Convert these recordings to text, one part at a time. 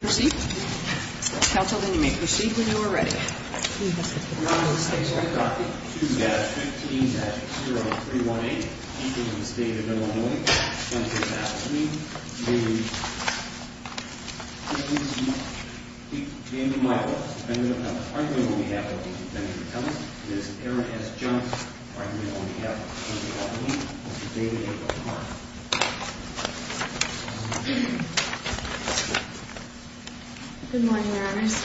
Proceed. Council, then you may proceed when you are ready. Good morning, Your Honors.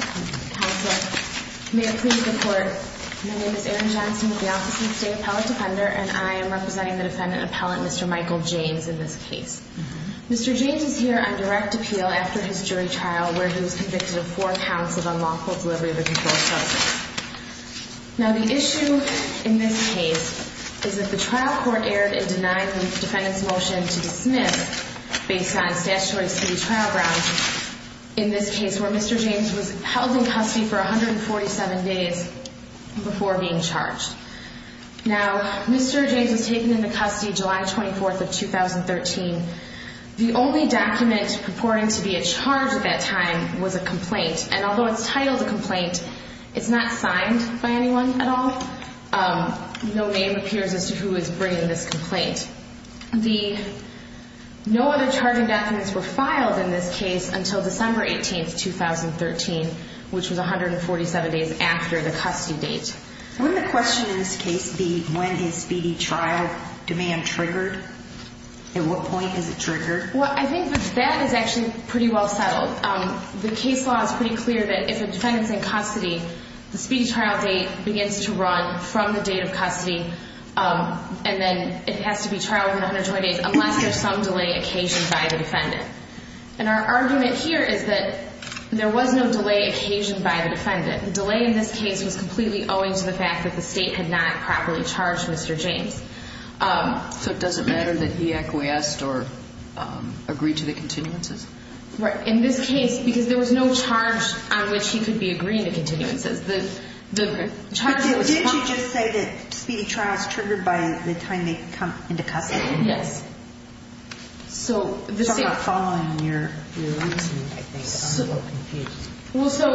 Council, may I please report. My name is Erin Johnson with the Office of the State Appellate Defender, and I am representing the defendant appellant, Mr. Michael James, in this case. Mr. James is here on direct appeal after his jury trial where he was convicted of four counts of unlawful delivery of a controlled substance. Now the issue in this case is that the trial court erred in denying the defendant's motion to dismiss based on statutory city trial grounds in this case where Mr. James was held in custody for 147 days before being charged. Now, Mr. James was taken into custody July 24th of 2013. The only document purporting to be a charge at that time was a complaint, and although it's titled a complaint, it's not signed by anyone at all. No name appears as to who is bringing this complaint. No other charging documents were filed in this case until December 18th, 2013, which was 147 days after the custody date. Wouldn't the question in this case be when is speedy trial demand triggered? At what point is it triggered? Well, I think that that is actually pretty well settled. The case law is pretty clear that if a defendant's in custody, the speedy trial date begins to run from the date of custody, and then it has to be trialed in 120 days unless there's some delay occasioned by the defendant. And our argument here is that there was no delay occasioned by the defendant. The delay in this case was completely owing to the fact that the state had not properly charged Mr. James. So it doesn't matter that he acquiesced or agreed to the continuances? Right. In this case, because there was no charge on which he could be agreeing to continuances, the charge was... But didn't you just say that speedy trial is triggered by the time they come into custody? Yes. So the state... So I'm not following your reasoning, I think. I'm a little confused. Well, so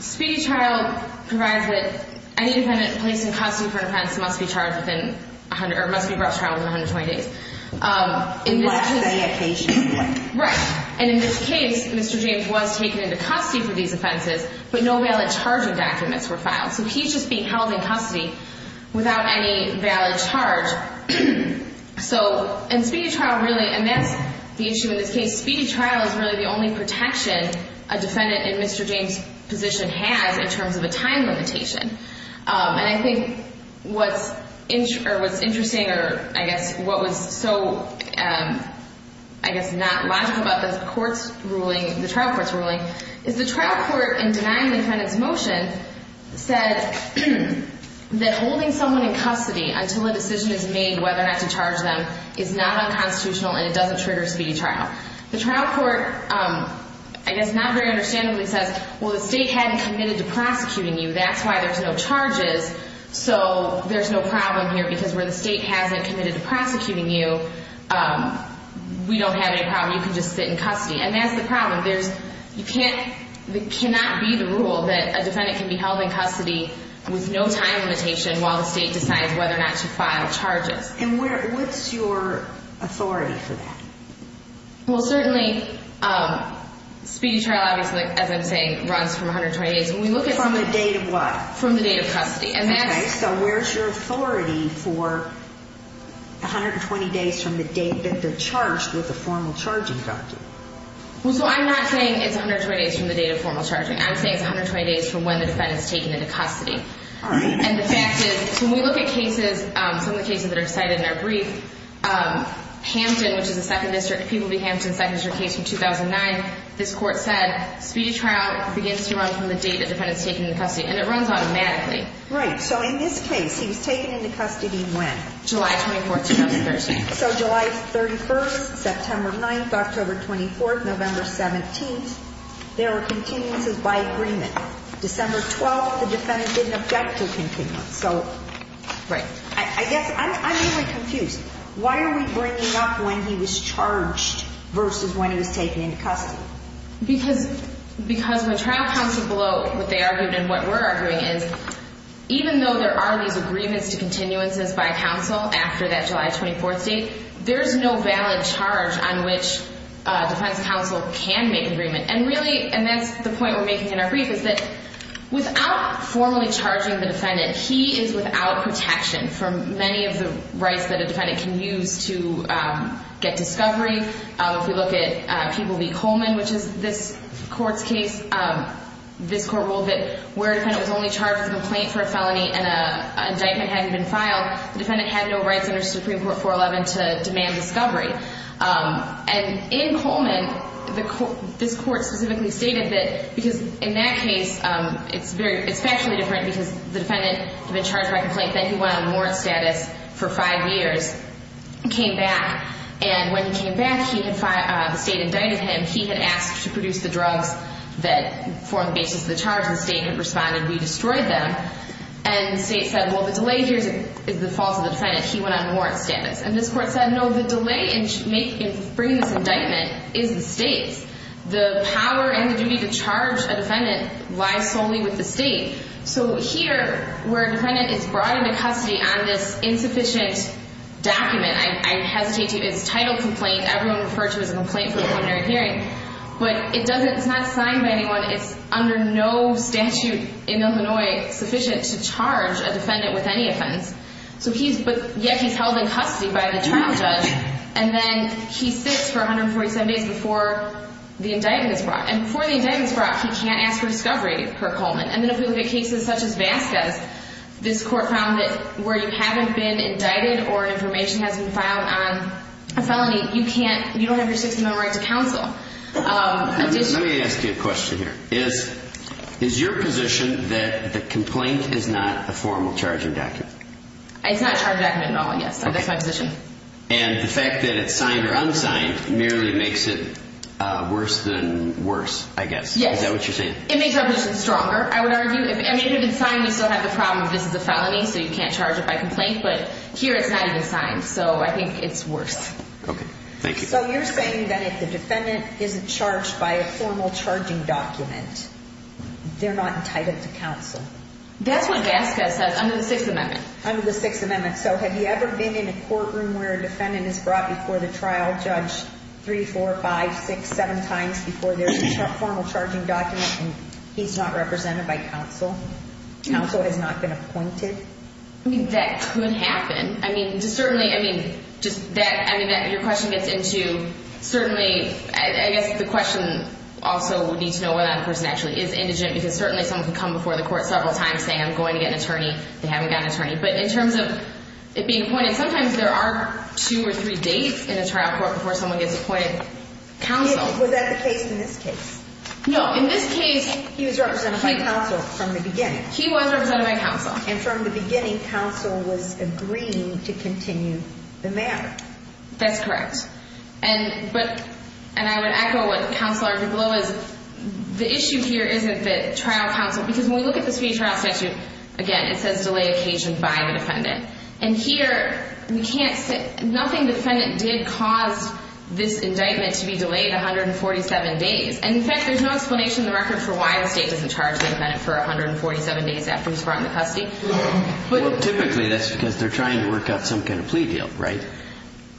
speedy trial provides that any defendant placed in custody for an offense must be charged within 100... or must be brought to trial within 120 days. Unless there's a delay occasion. Right. And in this case, Mr. James was taken into custody for these offenses, but no valid charging documents were filed. So he's just being held in custody without any valid charge. So in speedy trial, really, and that's the issue in this case, speedy trial is really the only protection a defendant in Mr. James' position has in terms of a time limitation. And I think what's interesting or, I guess, what was so, I guess, not logical about the trial court's ruling is the trial court, in denying the defendant's motion, said that holding someone in custody until a decision is made whether or not to charge them is not unconstitutional and it doesn't trigger a speedy trial. The trial court, I guess, not very understandably says, well, the state hadn't committed to prosecuting you. That's why there's no charges. So there's no problem here because where the state hasn't committed to prosecuting you, we don't have any problem. You can just sit in custody. And that's the problem. There's, you can't, it cannot be the rule that a defendant can be held in custody with no time limitation while the state decides whether or not to file charges. And what's your authority for that? Well, certainly, speedy trial, obviously, as I'm saying, runs from 120 days. From the date of what? From the date of custody. Okay. So where's your authority for 120 days from the date that they're charged with a formal charging? Well, so I'm not saying it's 120 days from the date of formal charging. I'm saying it's 120 days from when the defendant's taken into custody. All right. And the fact is, when we look at cases, some of the cases that are cited in our brief, Hampton, which is a Second District, Peabody, Hampton, Second District case from 2009, this Court said speedy trial begins to run from the date the defendant's taken into custody. And it runs automatically. Right. So in this case, he was taken into custody when? July 24th, 2013. So July 31st, September 9th, October 24th, November 17th, there were continuances by agreement. December 12th, the defendant didn't object to continuance. Right. So I guess I'm really confused. Why are we bringing up when he was charged versus when he was taken into custody? Because when trial counsel below what they argued and what we're arguing is, even though there are these agreements to continuances by counsel after that July 24th date, there's no valid charge on which defense counsel can make an agreement. And really, and that's the point we're making in our brief, is that without formally charging the defendant, he is without protection from many of the rights that a defendant can use to get discovery. If we look at Peabody-Coleman, which is this Court's case, this Court ruled that where a defendant was only charged with a complaint for a felony and an indictment hadn't been filed, the defendant had no rights under Supreme Court 411 to demand discovery. And in Coleman, this Court specifically stated that, because in that case, it's factually different because the defendant had been charged by complaint, then he went on warrant status for five years, came back. And when he came back, the State indicted him. He had asked to produce the drugs that formed the basis of the charge. The State responded, we destroyed them. And the State said, well, the delay here is the fault of the defendant. He went on warrant status. And this Court said, no, the delay in bringing this indictment is the State's. The power and the duty to charge a defendant lies solely with the State. So here, where a defendant is brought into custody on this insufficient document, I hesitate to use title complaint. Everyone referred to it as a complaint for a preliminary hearing. But it's not signed by anyone. It's under no statute in Illinois sufficient to charge a defendant with any offense. But yet he's held in custody by the trial judge. And then he sits for 147 days before the indictment is brought. And before the indictment is brought, he can't ask for discovery per Coleman. And then if we look at cases such as Vasquez, this Court found that where you haven't been indicted or information hasn't been filed on a felony, you don't have your 60-mile right to counsel. Let me ask you a question here. Is your position that the complaint is not a formal charging document? It's not a charging document at all, yes. That's my position. And the fact that it's signed or unsigned merely makes it worse than worse, I guess. Yes. Is that what you're saying? It makes our position stronger, I would argue. I mean, if it's signed, we still have the problem that this is a felony, so you can't charge it by complaint. But here it's not even signed, so I think it's worse. Okay. Thank you. So you're saying that if the defendant isn't charged by a formal charging document, they're not entitled to counsel? That's what Vasquez says under the Sixth Amendment. Under the Sixth Amendment. So have you ever been in a courtroom where a defendant is brought before the trial judge three, four, five, six, seven times before there's a formal charging document and he's not represented by counsel? Counsel has not been appointed? I mean, that could happen. I mean, just certainly, I mean, your question gets into certainly, I guess the question also would need to know whether that person actually is indigent because certainly someone could come before the court several times saying, I'm going to get an attorney. They haven't got an attorney. But in terms of it being appointed, sometimes there are two or three dates in a trial court before someone gets appointed counsel. Was that the case in this case? No. In this case, he was represented by counsel from the beginning. He was represented by counsel. And from the beginning, counsel was agreeing to continue the matter. That's correct. And I would echo what Counselor DeBlois, the issue here isn't that trial counsel, because when we look at the speedy trial statute, again, it says delay occasioned by the defendant. And here, we can't say, nothing defendant did cause this indictment to be delayed 147 days. And, in fact, there's no explanation in the record for why the state doesn't charge the defendant for 147 days after he's brought into custody. Well, typically, that's because they're trying to work out some kind of plea deal, right?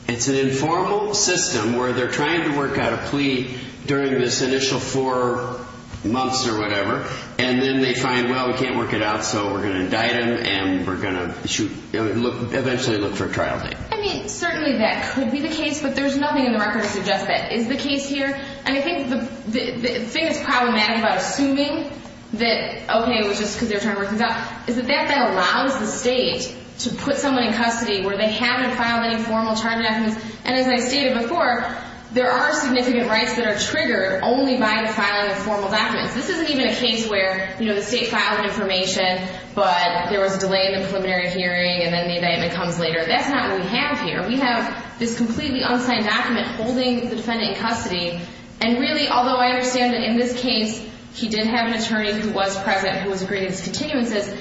It's an informal system where they're trying to work out a plea during this initial four months or whatever, and then they find, well, we can't work it out, so we're going to indict him, and we're going to eventually look for a trial date. I mean, certainly that could be the case, but there's nothing in the record that suggests that is the case here. And I think the thing that's problematic about assuming that, okay, it was just because they were trying to work things out, is that that then allows the state to put someone in custody where they haven't filed any formal charge documents. And as I stated before, there are significant rights that are triggered only by the filing of formal documents. This isn't even a case where, you know, the state filed information, but there was a delay in the preliminary hearing, and then the indictment comes later. That's not what we have here. We have this completely unsigned document holding the defendant in custody, and really, although I understand that in this case he did have an attorney who was present and who was agreeing to this continuum, it says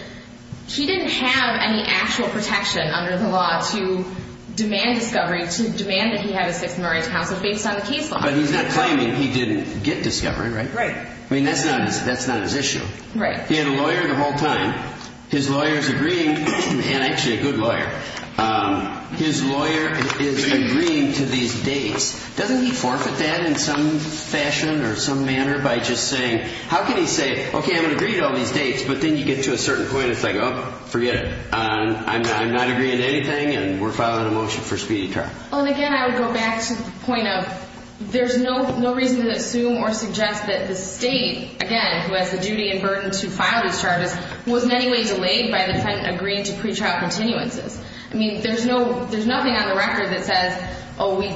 he didn't have any actual protection under the law to demand discovery, to demand that he have a Sixth Amendment right to counsel based on the case law. But he's not claiming he didn't get discovery, right? Right. I mean, that's not his issue. Right. He had a lawyer the whole time. His lawyer's agreeing, and actually a good lawyer. His lawyer is agreeing to these dates. Doesn't he forfeit that in some fashion or some manner by just saying, how can he say, okay, I'm going to agree to all these dates, but then you get to a certain point, it's like, oh, forget it. I'm not agreeing to anything, and we're filing a motion for speedy trial. Well, and again, I would go back to the point of there's no reason to assume or suggest that the state, again, who has the duty and burden to file these charges, was in any way delayed by the defendant agreeing to pretrial continuances. I mean, there's nothing on the record that says, oh, we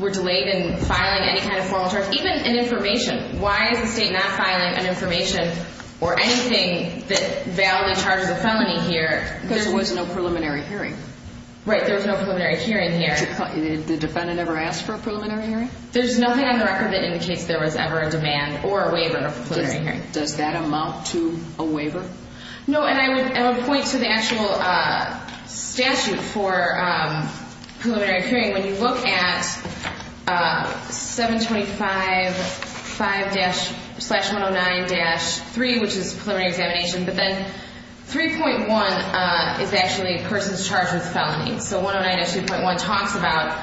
were delayed in filing any kind of formal charges, even in information. Why is the state not filing an information or anything that validly charges a felony here? Because there was no preliminary hearing. Right. There was no preliminary hearing here. Did the defendant ever ask for a preliminary hearing? There's nothing on the record that indicates there was ever a demand or a waiver of a preliminary hearing. Does that amount to a waiver? No, and I would point to the actual statute for preliminary hearing. When you look at 725.5-109-3, which is preliminary examination, but then 3.1 is actually a person charged with a felony. So 109-2.1 talks about,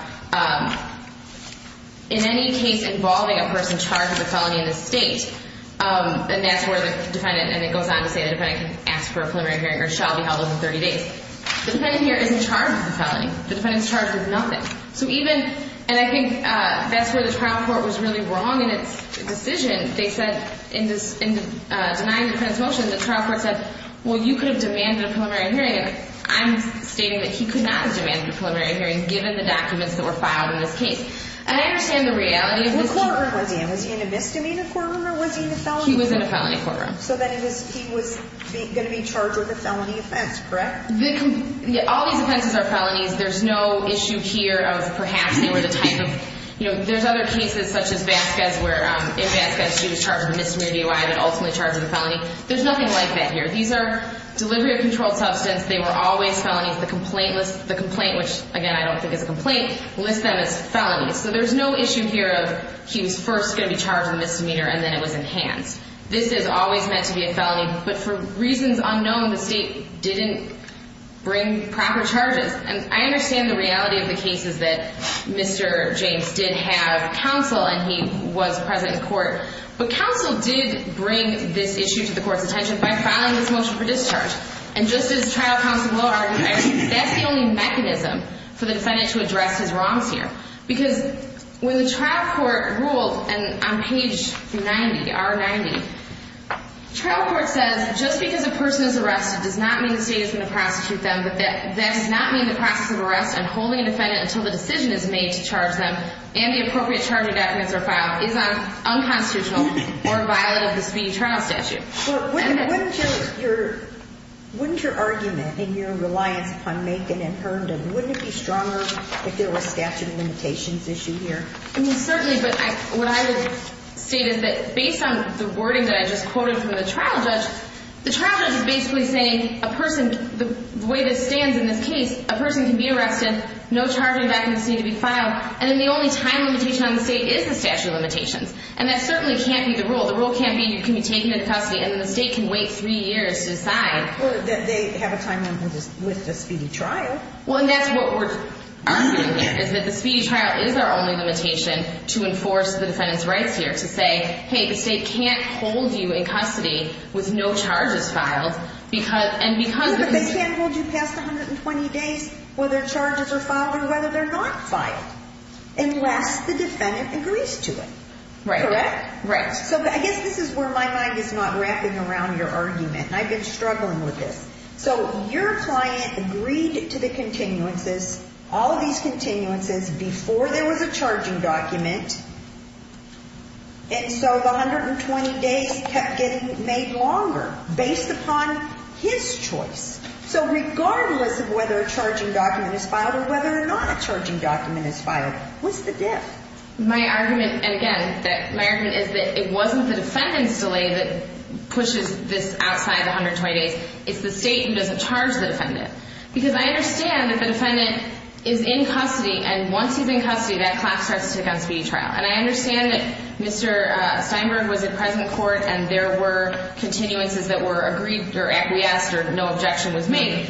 in any case involving a person charged with a felony in the state, and that's where the defendant, and it goes on to say the defendant can ask for a preliminary hearing or shall be held within 30 days. The defendant here isn't charged with a felony. The defendant's charged with nothing. So even, and I think that's where the trial court was really wrong in its decision. They said in denying the defendant's motion, the trial court said, well, you could have demanded a preliminary hearing, and I'm stating that he could not have demanded a preliminary hearing given the documents that were filed in this case. And I understand the reality of this. Was he in a misdemeanor courtroom or was he in a felony courtroom? He was in a felony courtroom. So then he was going to be charged with a felony offense, correct? All these offenses are felonies. There's no issue here of perhaps they were the type of, you know, there's other cases such as Vasquez where in Vasquez she was charged with a misdemeanor DUI but ultimately charged with a felony. There's nothing like that here. These are delivery of controlled substance. They were always felonies. The complaint list, the complaint, which, again, I don't think is a complaint, lists them as felonies. So there's no issue here of he was first going to be charged with a misdemeanor and then it was enhanced. This is always meant to be a felony. But for reasons unknown, the state didn't bring proper charges. And I understand the reality of the cases that Mr. James did have counsel and he was present in court. But counsel did bring this issue to the court's attention by filing this motion for discharge. And just as trial counsel Bloh argued, that's the only mechanism for the defendant to address his wrongs here because when the trial court ruled on page 90, R90, trial court says just because a person is arrested does not mean the state is going to prostitute them, but that does not mean the process of arrest and holding a defendant until the decision is made to charge them and the appropriate charging documents are filed is unconstitutional or violent of the speedy trial statute. But wouldn't your argument and your reliance upon Macon and Herndon, wouldn't it be stronger if there was statute of limitations issue here? I mean, certainly. But what I would state is that based on the wording that I just quoted from the trial judge, the trial judge is basically saying a person, the way this stands in this case, a person can be arrested, no charging documents need to be filed, and then the only time limitation on the state is the statute of limitations. And that certainly can't be the rule. The rule can't be you can be taken into custody and then the state can wait three years to decide. Or that they have a time limit with the speedy trial. Well, and that's what we're arguing here, is that the speedy trial is our only limitation to enforce the defendant's rights here, to say, hey, the state can't hold you in custody with no charges filed. Yeah, but they can't hold you past 120 days whether charges are filed or whether they're not filed unless the defendant agrees to it. Correct? Right. So I guess this is where my mind is not wrapping around your argument, and I've been struggling with this. So your client agreed to the continuances, all of these continuances before there was a charging document, and so the 120 days kept getting made longer based upon his choice. So regardless of whether a charging document is filed or whether or not a charging document is filed, what's the diff? My argument, and again, my argument is that it wasn't the defendant's delay that pushes this outside the 120 days. It's the state who doesn't charge the defendant. Because I understand that the defendant is in custody, and once he's in custody, that clock starts to tick on speedy trial. And I understand that Mr. Steinberg was in present court and there were continuances that were agreed or acquiesced or no objection was made.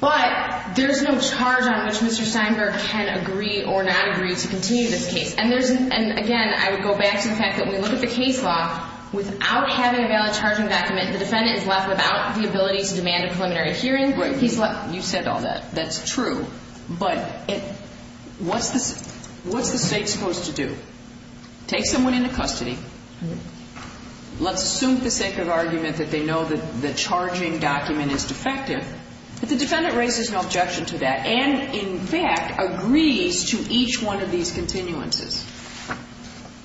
But there's no charge on which Mr. Steinberg can agree or not agree to continue this case. And again, I would go back to the fact that when we look at the case law, without having a valid charging document, the defendant is left without the ability to demand a preliminary hearing. You said all that. That's true. But what's the state supposed to do? Take someone into custody, let's assume for the sake of argument that they know that the charging document is defective, but the defendant raises no objection to that and in fact agrees to each one of these continuances.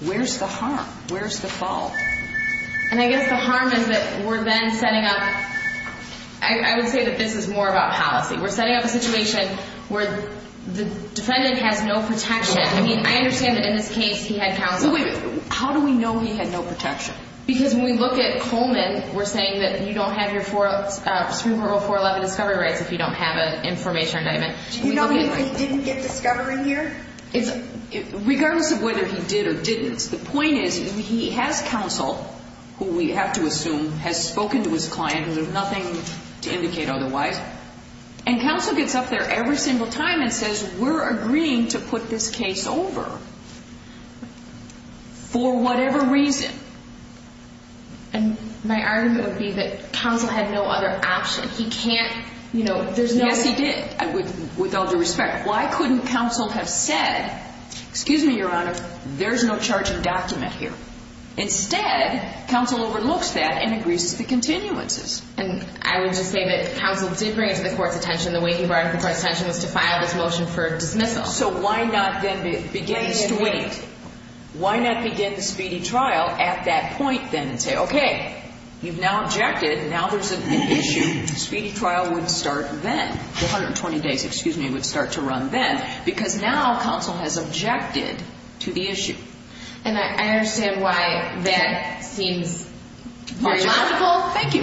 Where's the harm? Where's the fault? And I guess the harm is that we're then setting up, I would say that this is more about policy. We're setting up a situation where the defendant has no protection. I mean, I understand that in this case he had counsel. How do we know he had no protection? Because when we look at Coleman, we're saying that you don't have your Supreme Court Rule 411 discovery rights if you don't have an information indictment. Do you know if he didn't get discovery here? Regardless of whether he did or didn't, the point is he has counsel who we have to assume has spoken to his client and there's nothing to indicate otherwise, and counsel gets up there every single time and says, we're agreeing to put this case over for whatever reason. And my argument would be that counsel had no other option. He can't, you know, there's no way. Yes, he did, with all due respect. Why couldn't counsel have said, excuse me, Your Honor, there's no charging document here? Instead, counsel overlooks that and agrees to the continuances. And I would just say that counsel did bring it to the court's attention, the way he brought it to the court's attention was to file this motion for dismissal. So why not then begin the speedy trial at that point then and say, okay, you've now objected and now there's an issue. The speedy trial would start then. The 120 days, excuse me, would start to run then because now counsel has objected to the issue. And I understand why that seems very logical. Thank you.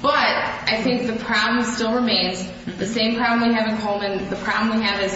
But I think the problem still remains. The same problem we have in Coleman. The problem we have is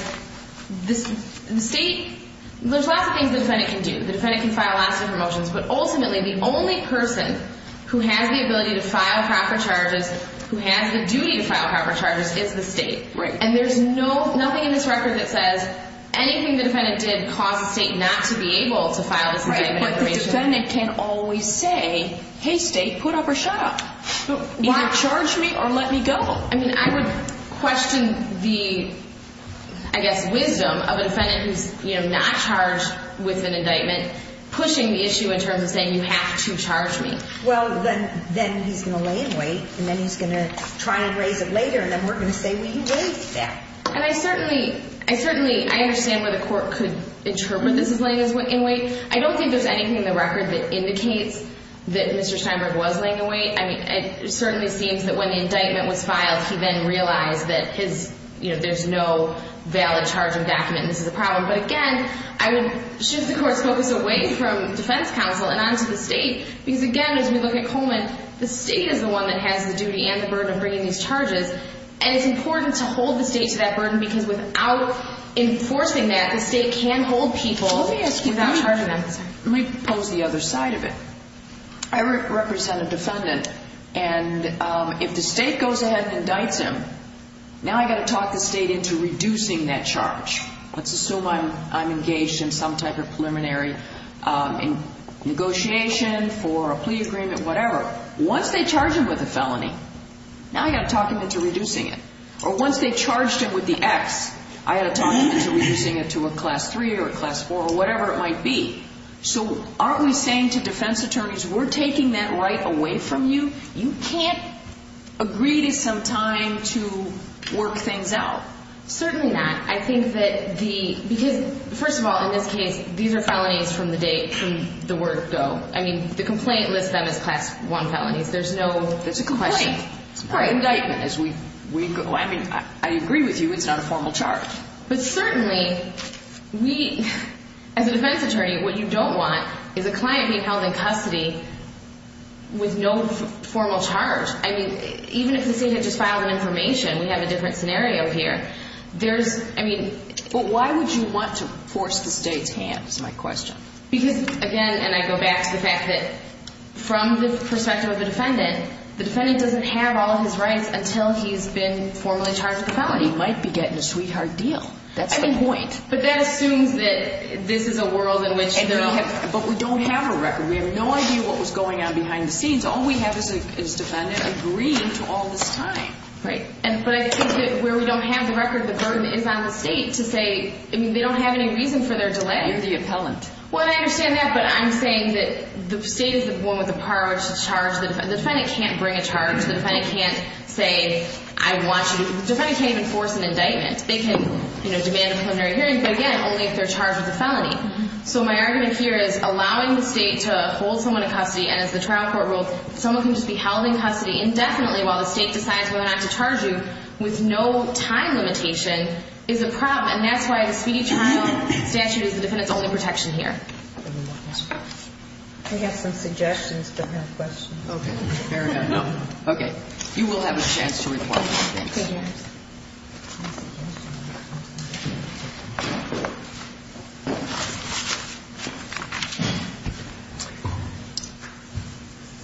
the state, there's lots of things the defendant can do. The defendant can file lots of promotions, but ultimately the only person who has the ability to file proper charges, who has the duty to file proper charges, is the state. Right. And there's nothing in this record that says anything the defendant did caused the state not to be able to file this indictment. But the defendant can't always say, hey, state, put up or shut up. Either charge me or let me go. I mean, I would question the, I guess, wisdom of a defendant who's not charged with an indictment pushing the issue in terms of saying you have to charge me. Well, then he's going to lay in wait and then he's going to try and raise it later and then we're going to say we raised that. And I certainly, I certainly, I understand why the court could interpret this as laying in wait. I don't think there's anything in the record that indicates that Mr. Steinberg was laying in wait. I mean, it certainly seems that when the indictment was filed, he then realized that his, you know, there's no valid charging document and this is a problem. But again, I would shift the court's focus away from defense counsel and onto the state because, again, as we look at Coleman, the state is the one that has the duty and the burden of bringing these charges. And it's important to hold the state to that burden because without enforcing that, the state can hold people without charging them. Let me pose the other side of it. I represent a defendant. And if the state goes ahead and indicts him, now I've got to talk the state into reducing that charge. Let's assume I'm engaged in some type of preliminary negotiation for a plea agreement, whatever. Once they charge him with a felony, now I've got to talk him into reducing it. Or once they charged him with the X, I've got to talk him into reducing it to a class 3 or a class 4 or whatever it might be. So aren't we saying to defense attorneys, we're taking that right away from you? You can't agree to some time to work things out. Certainly not. I think that the, because first of all, in this case, these are felonies from the day, from the word go. I mean, the complaint lists them as class 1 felonies. There's no question. That's a complaint. It's an indictment. I mean, I agree with you. It's not a formal charge. But certainly, we, as a defense attorney, what you don't want is a client being held in custody with no formal charge. I mean, even if the state had just filed an information, we have a different scenario here. There's, I mean. But why would you want to force the state's hand is my question. Because, again, and I go back to the fact that from the perspective of a defendant, the defendant doesn't have all his rights until he's been formally charged with a felony. He might be getting a sweetheart deal. That's the point. But that assumes that this is a world in which they're all. But we don't have a record. We have no idea what was going on behind the scenes. All we have is a defendant agreeing to all this time. Right. But I think that where we don't have the record, the burden is on the state to say, I mean, they don't have any reason for their delay. You're the appellant. Well, I understand that. But I'm saying that the state is the one with the power to charge. The defendant can't bring a charge. The defendant can't say, I want you to. The defendant can't even force an indictment. They can demand a preliminary hearing. But, again, only if they're charged with a felony. So my argument here is allowing the state to hold someone in custody. And as the trial court ruled, someone can just be held in custody indefinitely while the state decides whether or not to charge you with no time limitation is a problem. And that's why the speedy trial statute is the defendant's only protection here. We have some suggestions, but no questions. Okay. Fair enough. Okay. You will have a chance to reply. Thank you.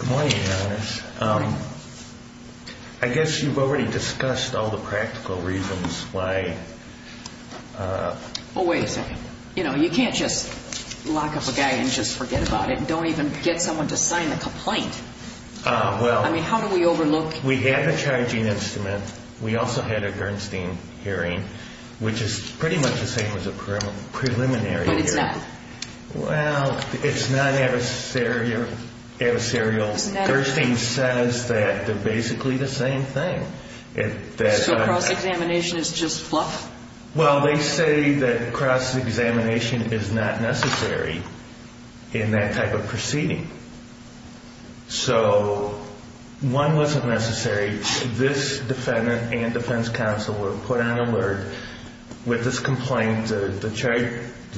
Good morning, Your Honor. Good morning. I guess you've already discussed all the practical reasons why... Oh, wait a second. You know, you can't just lock up a guy and just forget about it and don't even get someone to sign the complaint. Well... I mean, how do we overlook... We have a charging instrument. We also had a Gerstein hearing, which is pretty much the same as a preliminary hearing. But it's not... Well, it's not adversarial. It's not adversarial. Gerstein says that they're basically the same thing. So cross-examination is just fluff? Well, they say that cross-examination is not necessary in that type of proceeding. So one wasn't necessary. This defendant and defense counsel were put on alert with this complaint. The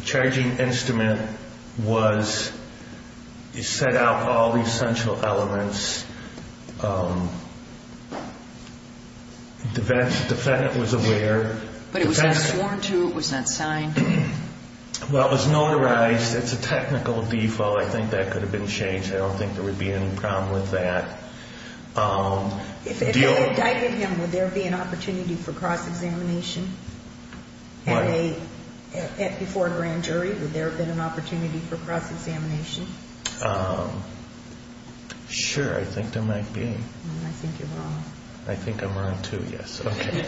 charging instrument set out all the essential elements. The defendant was aware. But it was not sworn to. It was not signed. Well, it was notarized. It's a technical default. I think that could have been changed. I don't think there would be any problem with that. If they indicted him, would there be an opportunity for cross-examination? What? Before a grand jury, would there have been an opportunity for cross-examination? Sure. I think there might be. I think you're wrong. I think I'm wrong, too. Yes. Okay.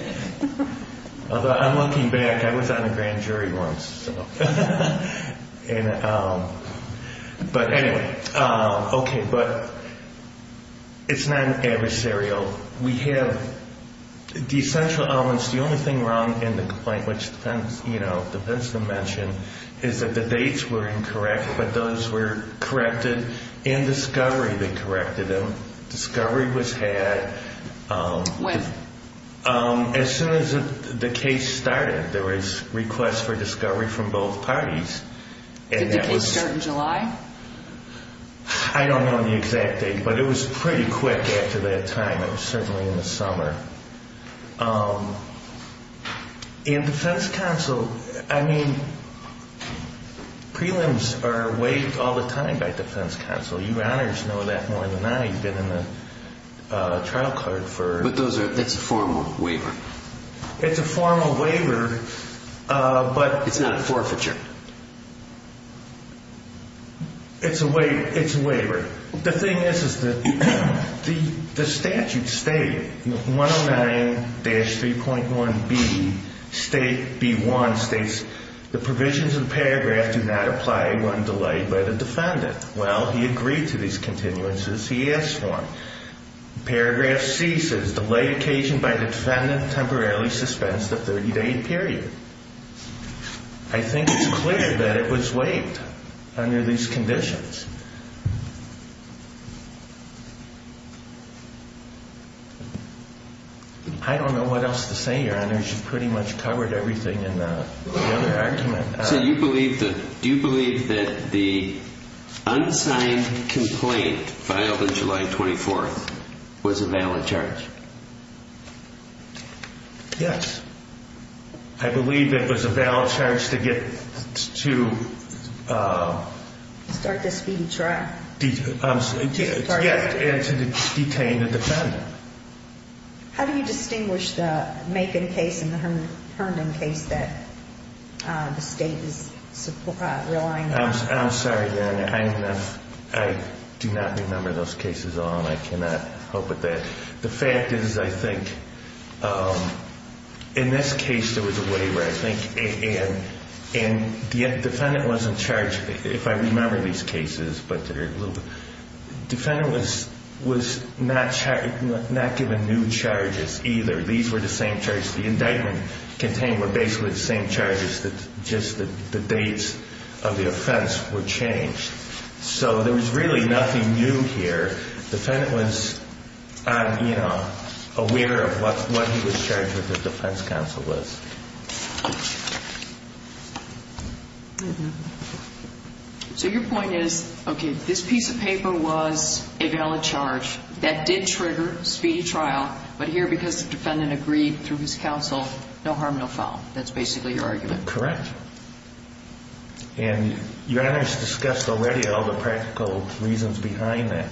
Although, I'm looking back. I was on a grand jury once. But anyway. Okay. But it's not adversarial. We have the essential elements. The only thing wrong in the complaint, which depends on the mention, is that the dates were incorrect. But those were corrected in discovery. They corrected them. Discovery was had. When? As soon as the case started. There was requests for discovery from both parties. Did the case start in July? I don't know the exact date. But it was pretty quick after that time. It was certainly in the summer. In defense counsel, I mean, prelims are waived all the time by defense counsel. You honors know that more than I. You've been in the trial court for... But that's a formal waiver. It's a formal waiver, but... It's not forfeiture. It's a waiver. The thing is, is that the statute state, 109-3.1B, state B1 states, the provisions of the paragraph do not apply when delayed by the defendant. Well, he agreed to these continuances. He asked for them. Paragraph C says, delayed occasion by the defendant temporarily suspense the 30-day period. I think it's clear that it was waived under these conditions. I don't know what else to say, Your Honors. You've pretty much covered everything in the other argument. So you believe that... Do you believe that the unsigned complaint filed on July 24th was a valid charge? Yes. I believe it was a valid charge to get to... Start the speech. To detain the defendant. How do you distinguish the Macon case and the Herndon case that the state is relying on? I'm sorry, Your Honor. I do not remember those cases at all, and I cannot help with that. The fact is, I think, in this case there was a waiver, I think, and the defendant wasn't charged, if I remember these cases, but they're a little... Defendant was not given new charges either. These were the same charges. The indictment contained were basically the same charges, just the dates of the offense were changed. So there was really nothing new here. Defendant was, you know, aware of what he was charged with, the defense counsel was. So your point is, okay, this piece of paper was a valid charge that did trigger speedy trial, but here because the defendant agreed through his counsel, no harm, no foul. That's basically your argument. Correct. And Your Honor's discussed already all the practical reasons behind that,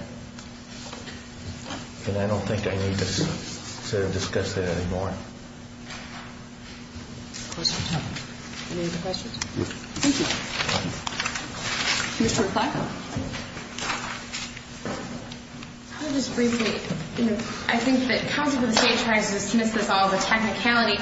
and I don't think I need to discuss that anymore. Questions? Any other questions? No. Thank you. Mr. McClatchy. I'll just briefly, you know, I think that counsel for the State tries to dismiss this all as a technicality,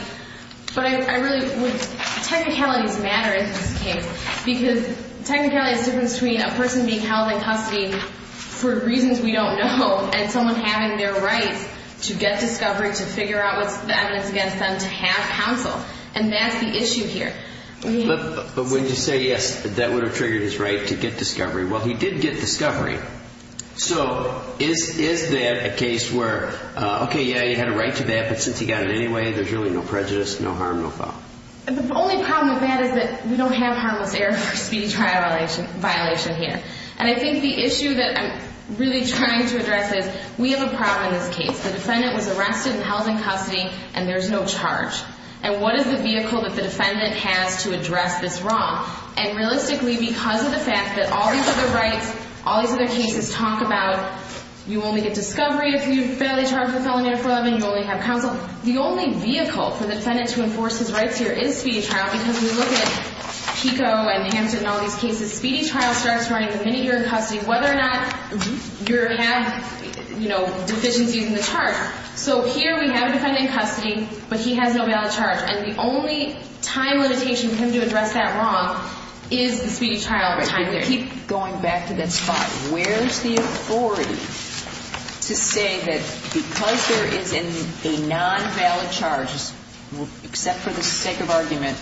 but I really would, technicalities matter in this case, because technicality is the difference between a person being held in custody for reasons we don't know and someone having their rights to get discovery, to figure out what's the evidence against them, to have counsel. And that's the issue here. But would you say, yes, that would have triggered his right to get discovery? Well, he did get discovery. So is that a case where, okay, yeah, he had a right to that, but since he got it anyway, there's really no prejudice, no harm, no foul? The only problem with that is that we don't have harmless error for speedy trial violation here. And I think the issue that I'm really trying to address is we have a problem in this case. The defendant was arrested and held in custody, and there's no charge. And what is the vehicle that the defendant has to address this wrong? And realistically, because of the fact that all these other rights, all these other cases talk about you only get discovery if you fairly charge the felony under 411, you only have counsel. The only vehicle for the defendant to enforce his rights here is speedy trial, because we look at PICO and Hampton and all these cases. Speedy trial starts running the minute you're in custody, whether or not you have, you know, deficiencies in the charge. So here we have a defendant in custody, but he has no valid charge. And the only time limitation for him to address that wrong is the speedy trial time period. If we keep going back to that spot, where's the authority to say that because there is a non-valid charge, except for the sake of argument,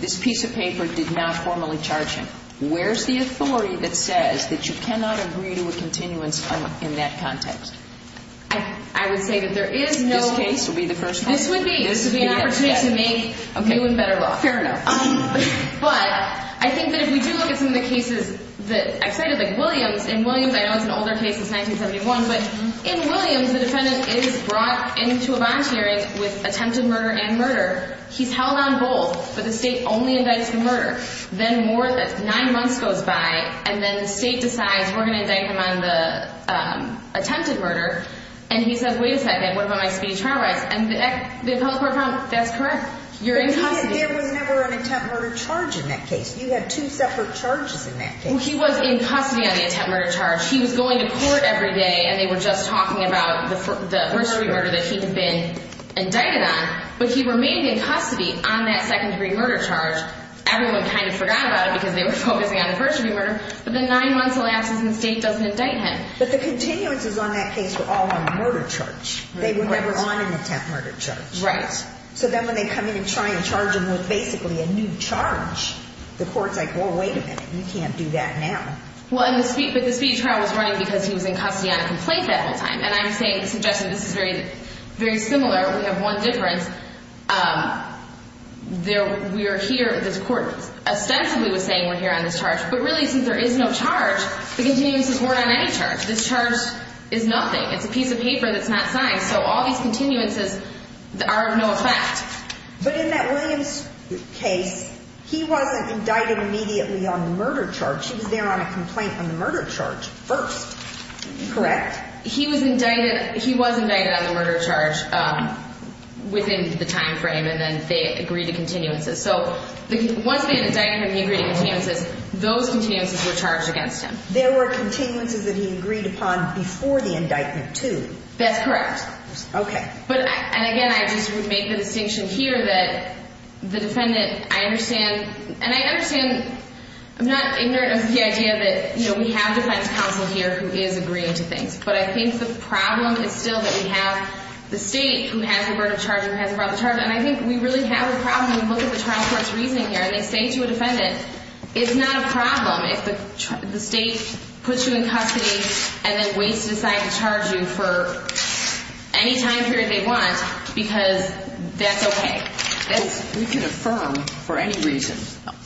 this piece of paper did not formally charge him? Where's the authority that says that you cannot agree to a continuance in that context? I would say that there is no – This case would be the first one? This would be an opportunity to make new and better law. Fair enough. But I think that if we do look at some of the cases that I cited, like Williams. In Williams, I know it's an older case, it's 1971. But in Williams, the defendant is brought into a bond hearing with attempted murder and murder. He's held on both, but the state only indicts the murder. Then more than nine months goes by, and then the state decides we're going to indict him on the attempted murder. And he says, wait a second, what about my speedy trial rights? And the appellate court found that's correct. You're in custody. There was never an attempt murder charge in that case. You had two separate charges in that case. Well, he was in custody on the attempt murder charge. He was going to court every day, and they were just talking about the first murder that he had been indicted on. But he remained in custody on that second-degree murder charge. Everyone kind of forgot about it because they were focusing on the first-degree murder. But then nine months elapses, and the state doesn't indict him. But the continuances on that case were all on the murder charge. They were never on an attempt murder charge. Right. So then when they come in and try and charge him with basically a new charge, the court's like, well, wait a minute. You can't do that now. Well, but the speedy trial was running because he was in custody on a complaint that whole time. And I'm suggesting this is very similar. We have one difference. We are here, this court ostensibly was saying we're here on this charge. But really, since there is no charge, the continuances weren't on any charge. This charge is nothing. It's a piece of paper that's not signed. So all these continuances are of no effect. But in that Williams case, he wasn't indicted immediately on the murder charge. He was there on a complaint on the murder charge first. Correct? He was indicted on the murder charge within the time frame, and then they agreed to continuances. So once they had indicted him, he agreed to continuances. Those continuances were charged against him. There were continuances that he agreed upon before the indictment, too. That's correct. Okay. And, again, I just would make the distinction here that the defendant, I understand I'm not ignorant of the idea that we have defense counsel here who is agreeing to things. But I think the problem is still that we have the state who has the murder charge and who hasn't brought the charge. And I think we really have a problem when we look at the trial court's reasoning here. And they say to a defendant, it's not a problem if the state puts you in custody and then waits to decide to charge you for any time period they want because that's okay. We can affirm for any reason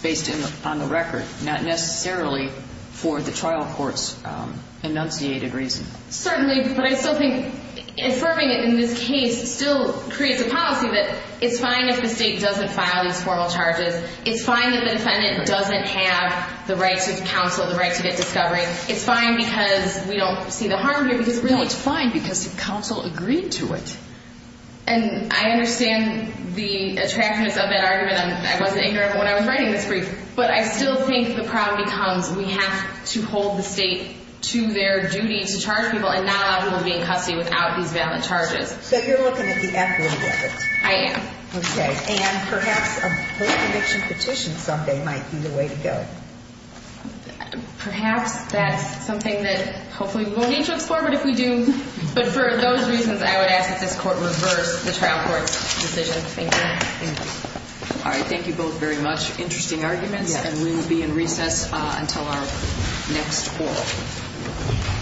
based on the record, not necessarily for the trial court's enunciated reason. Certainly. But I still think affirming it in this case still creates a policy that it's fine if the state doesn't file these formal charges. It's fine if the defendant doesn't have the right to counsel, the right to get discovery. It's fine because we don't see the harm here. No, it's fine because the counsel agreed to it. And I understand the attractiveness of that argument. I wasn't ignorant when I was writing this brief. But I still think the problem becomes we have to hold the state to their duty to charge people and not allow people to be in custody without these valid charges. So you're looking at the equity of it. I am. Okay. And perhaps a post-conviction petition someday might be the way to go. Perhaps that's something that hopefully we won't need to explore. I don't know what if we do. But for those reasons, I would ask that this court reverse the trial court's decision. Thank you. Thank you. All right. Thank you both very much. Interesting arguments. And we will be in recess until our next oral.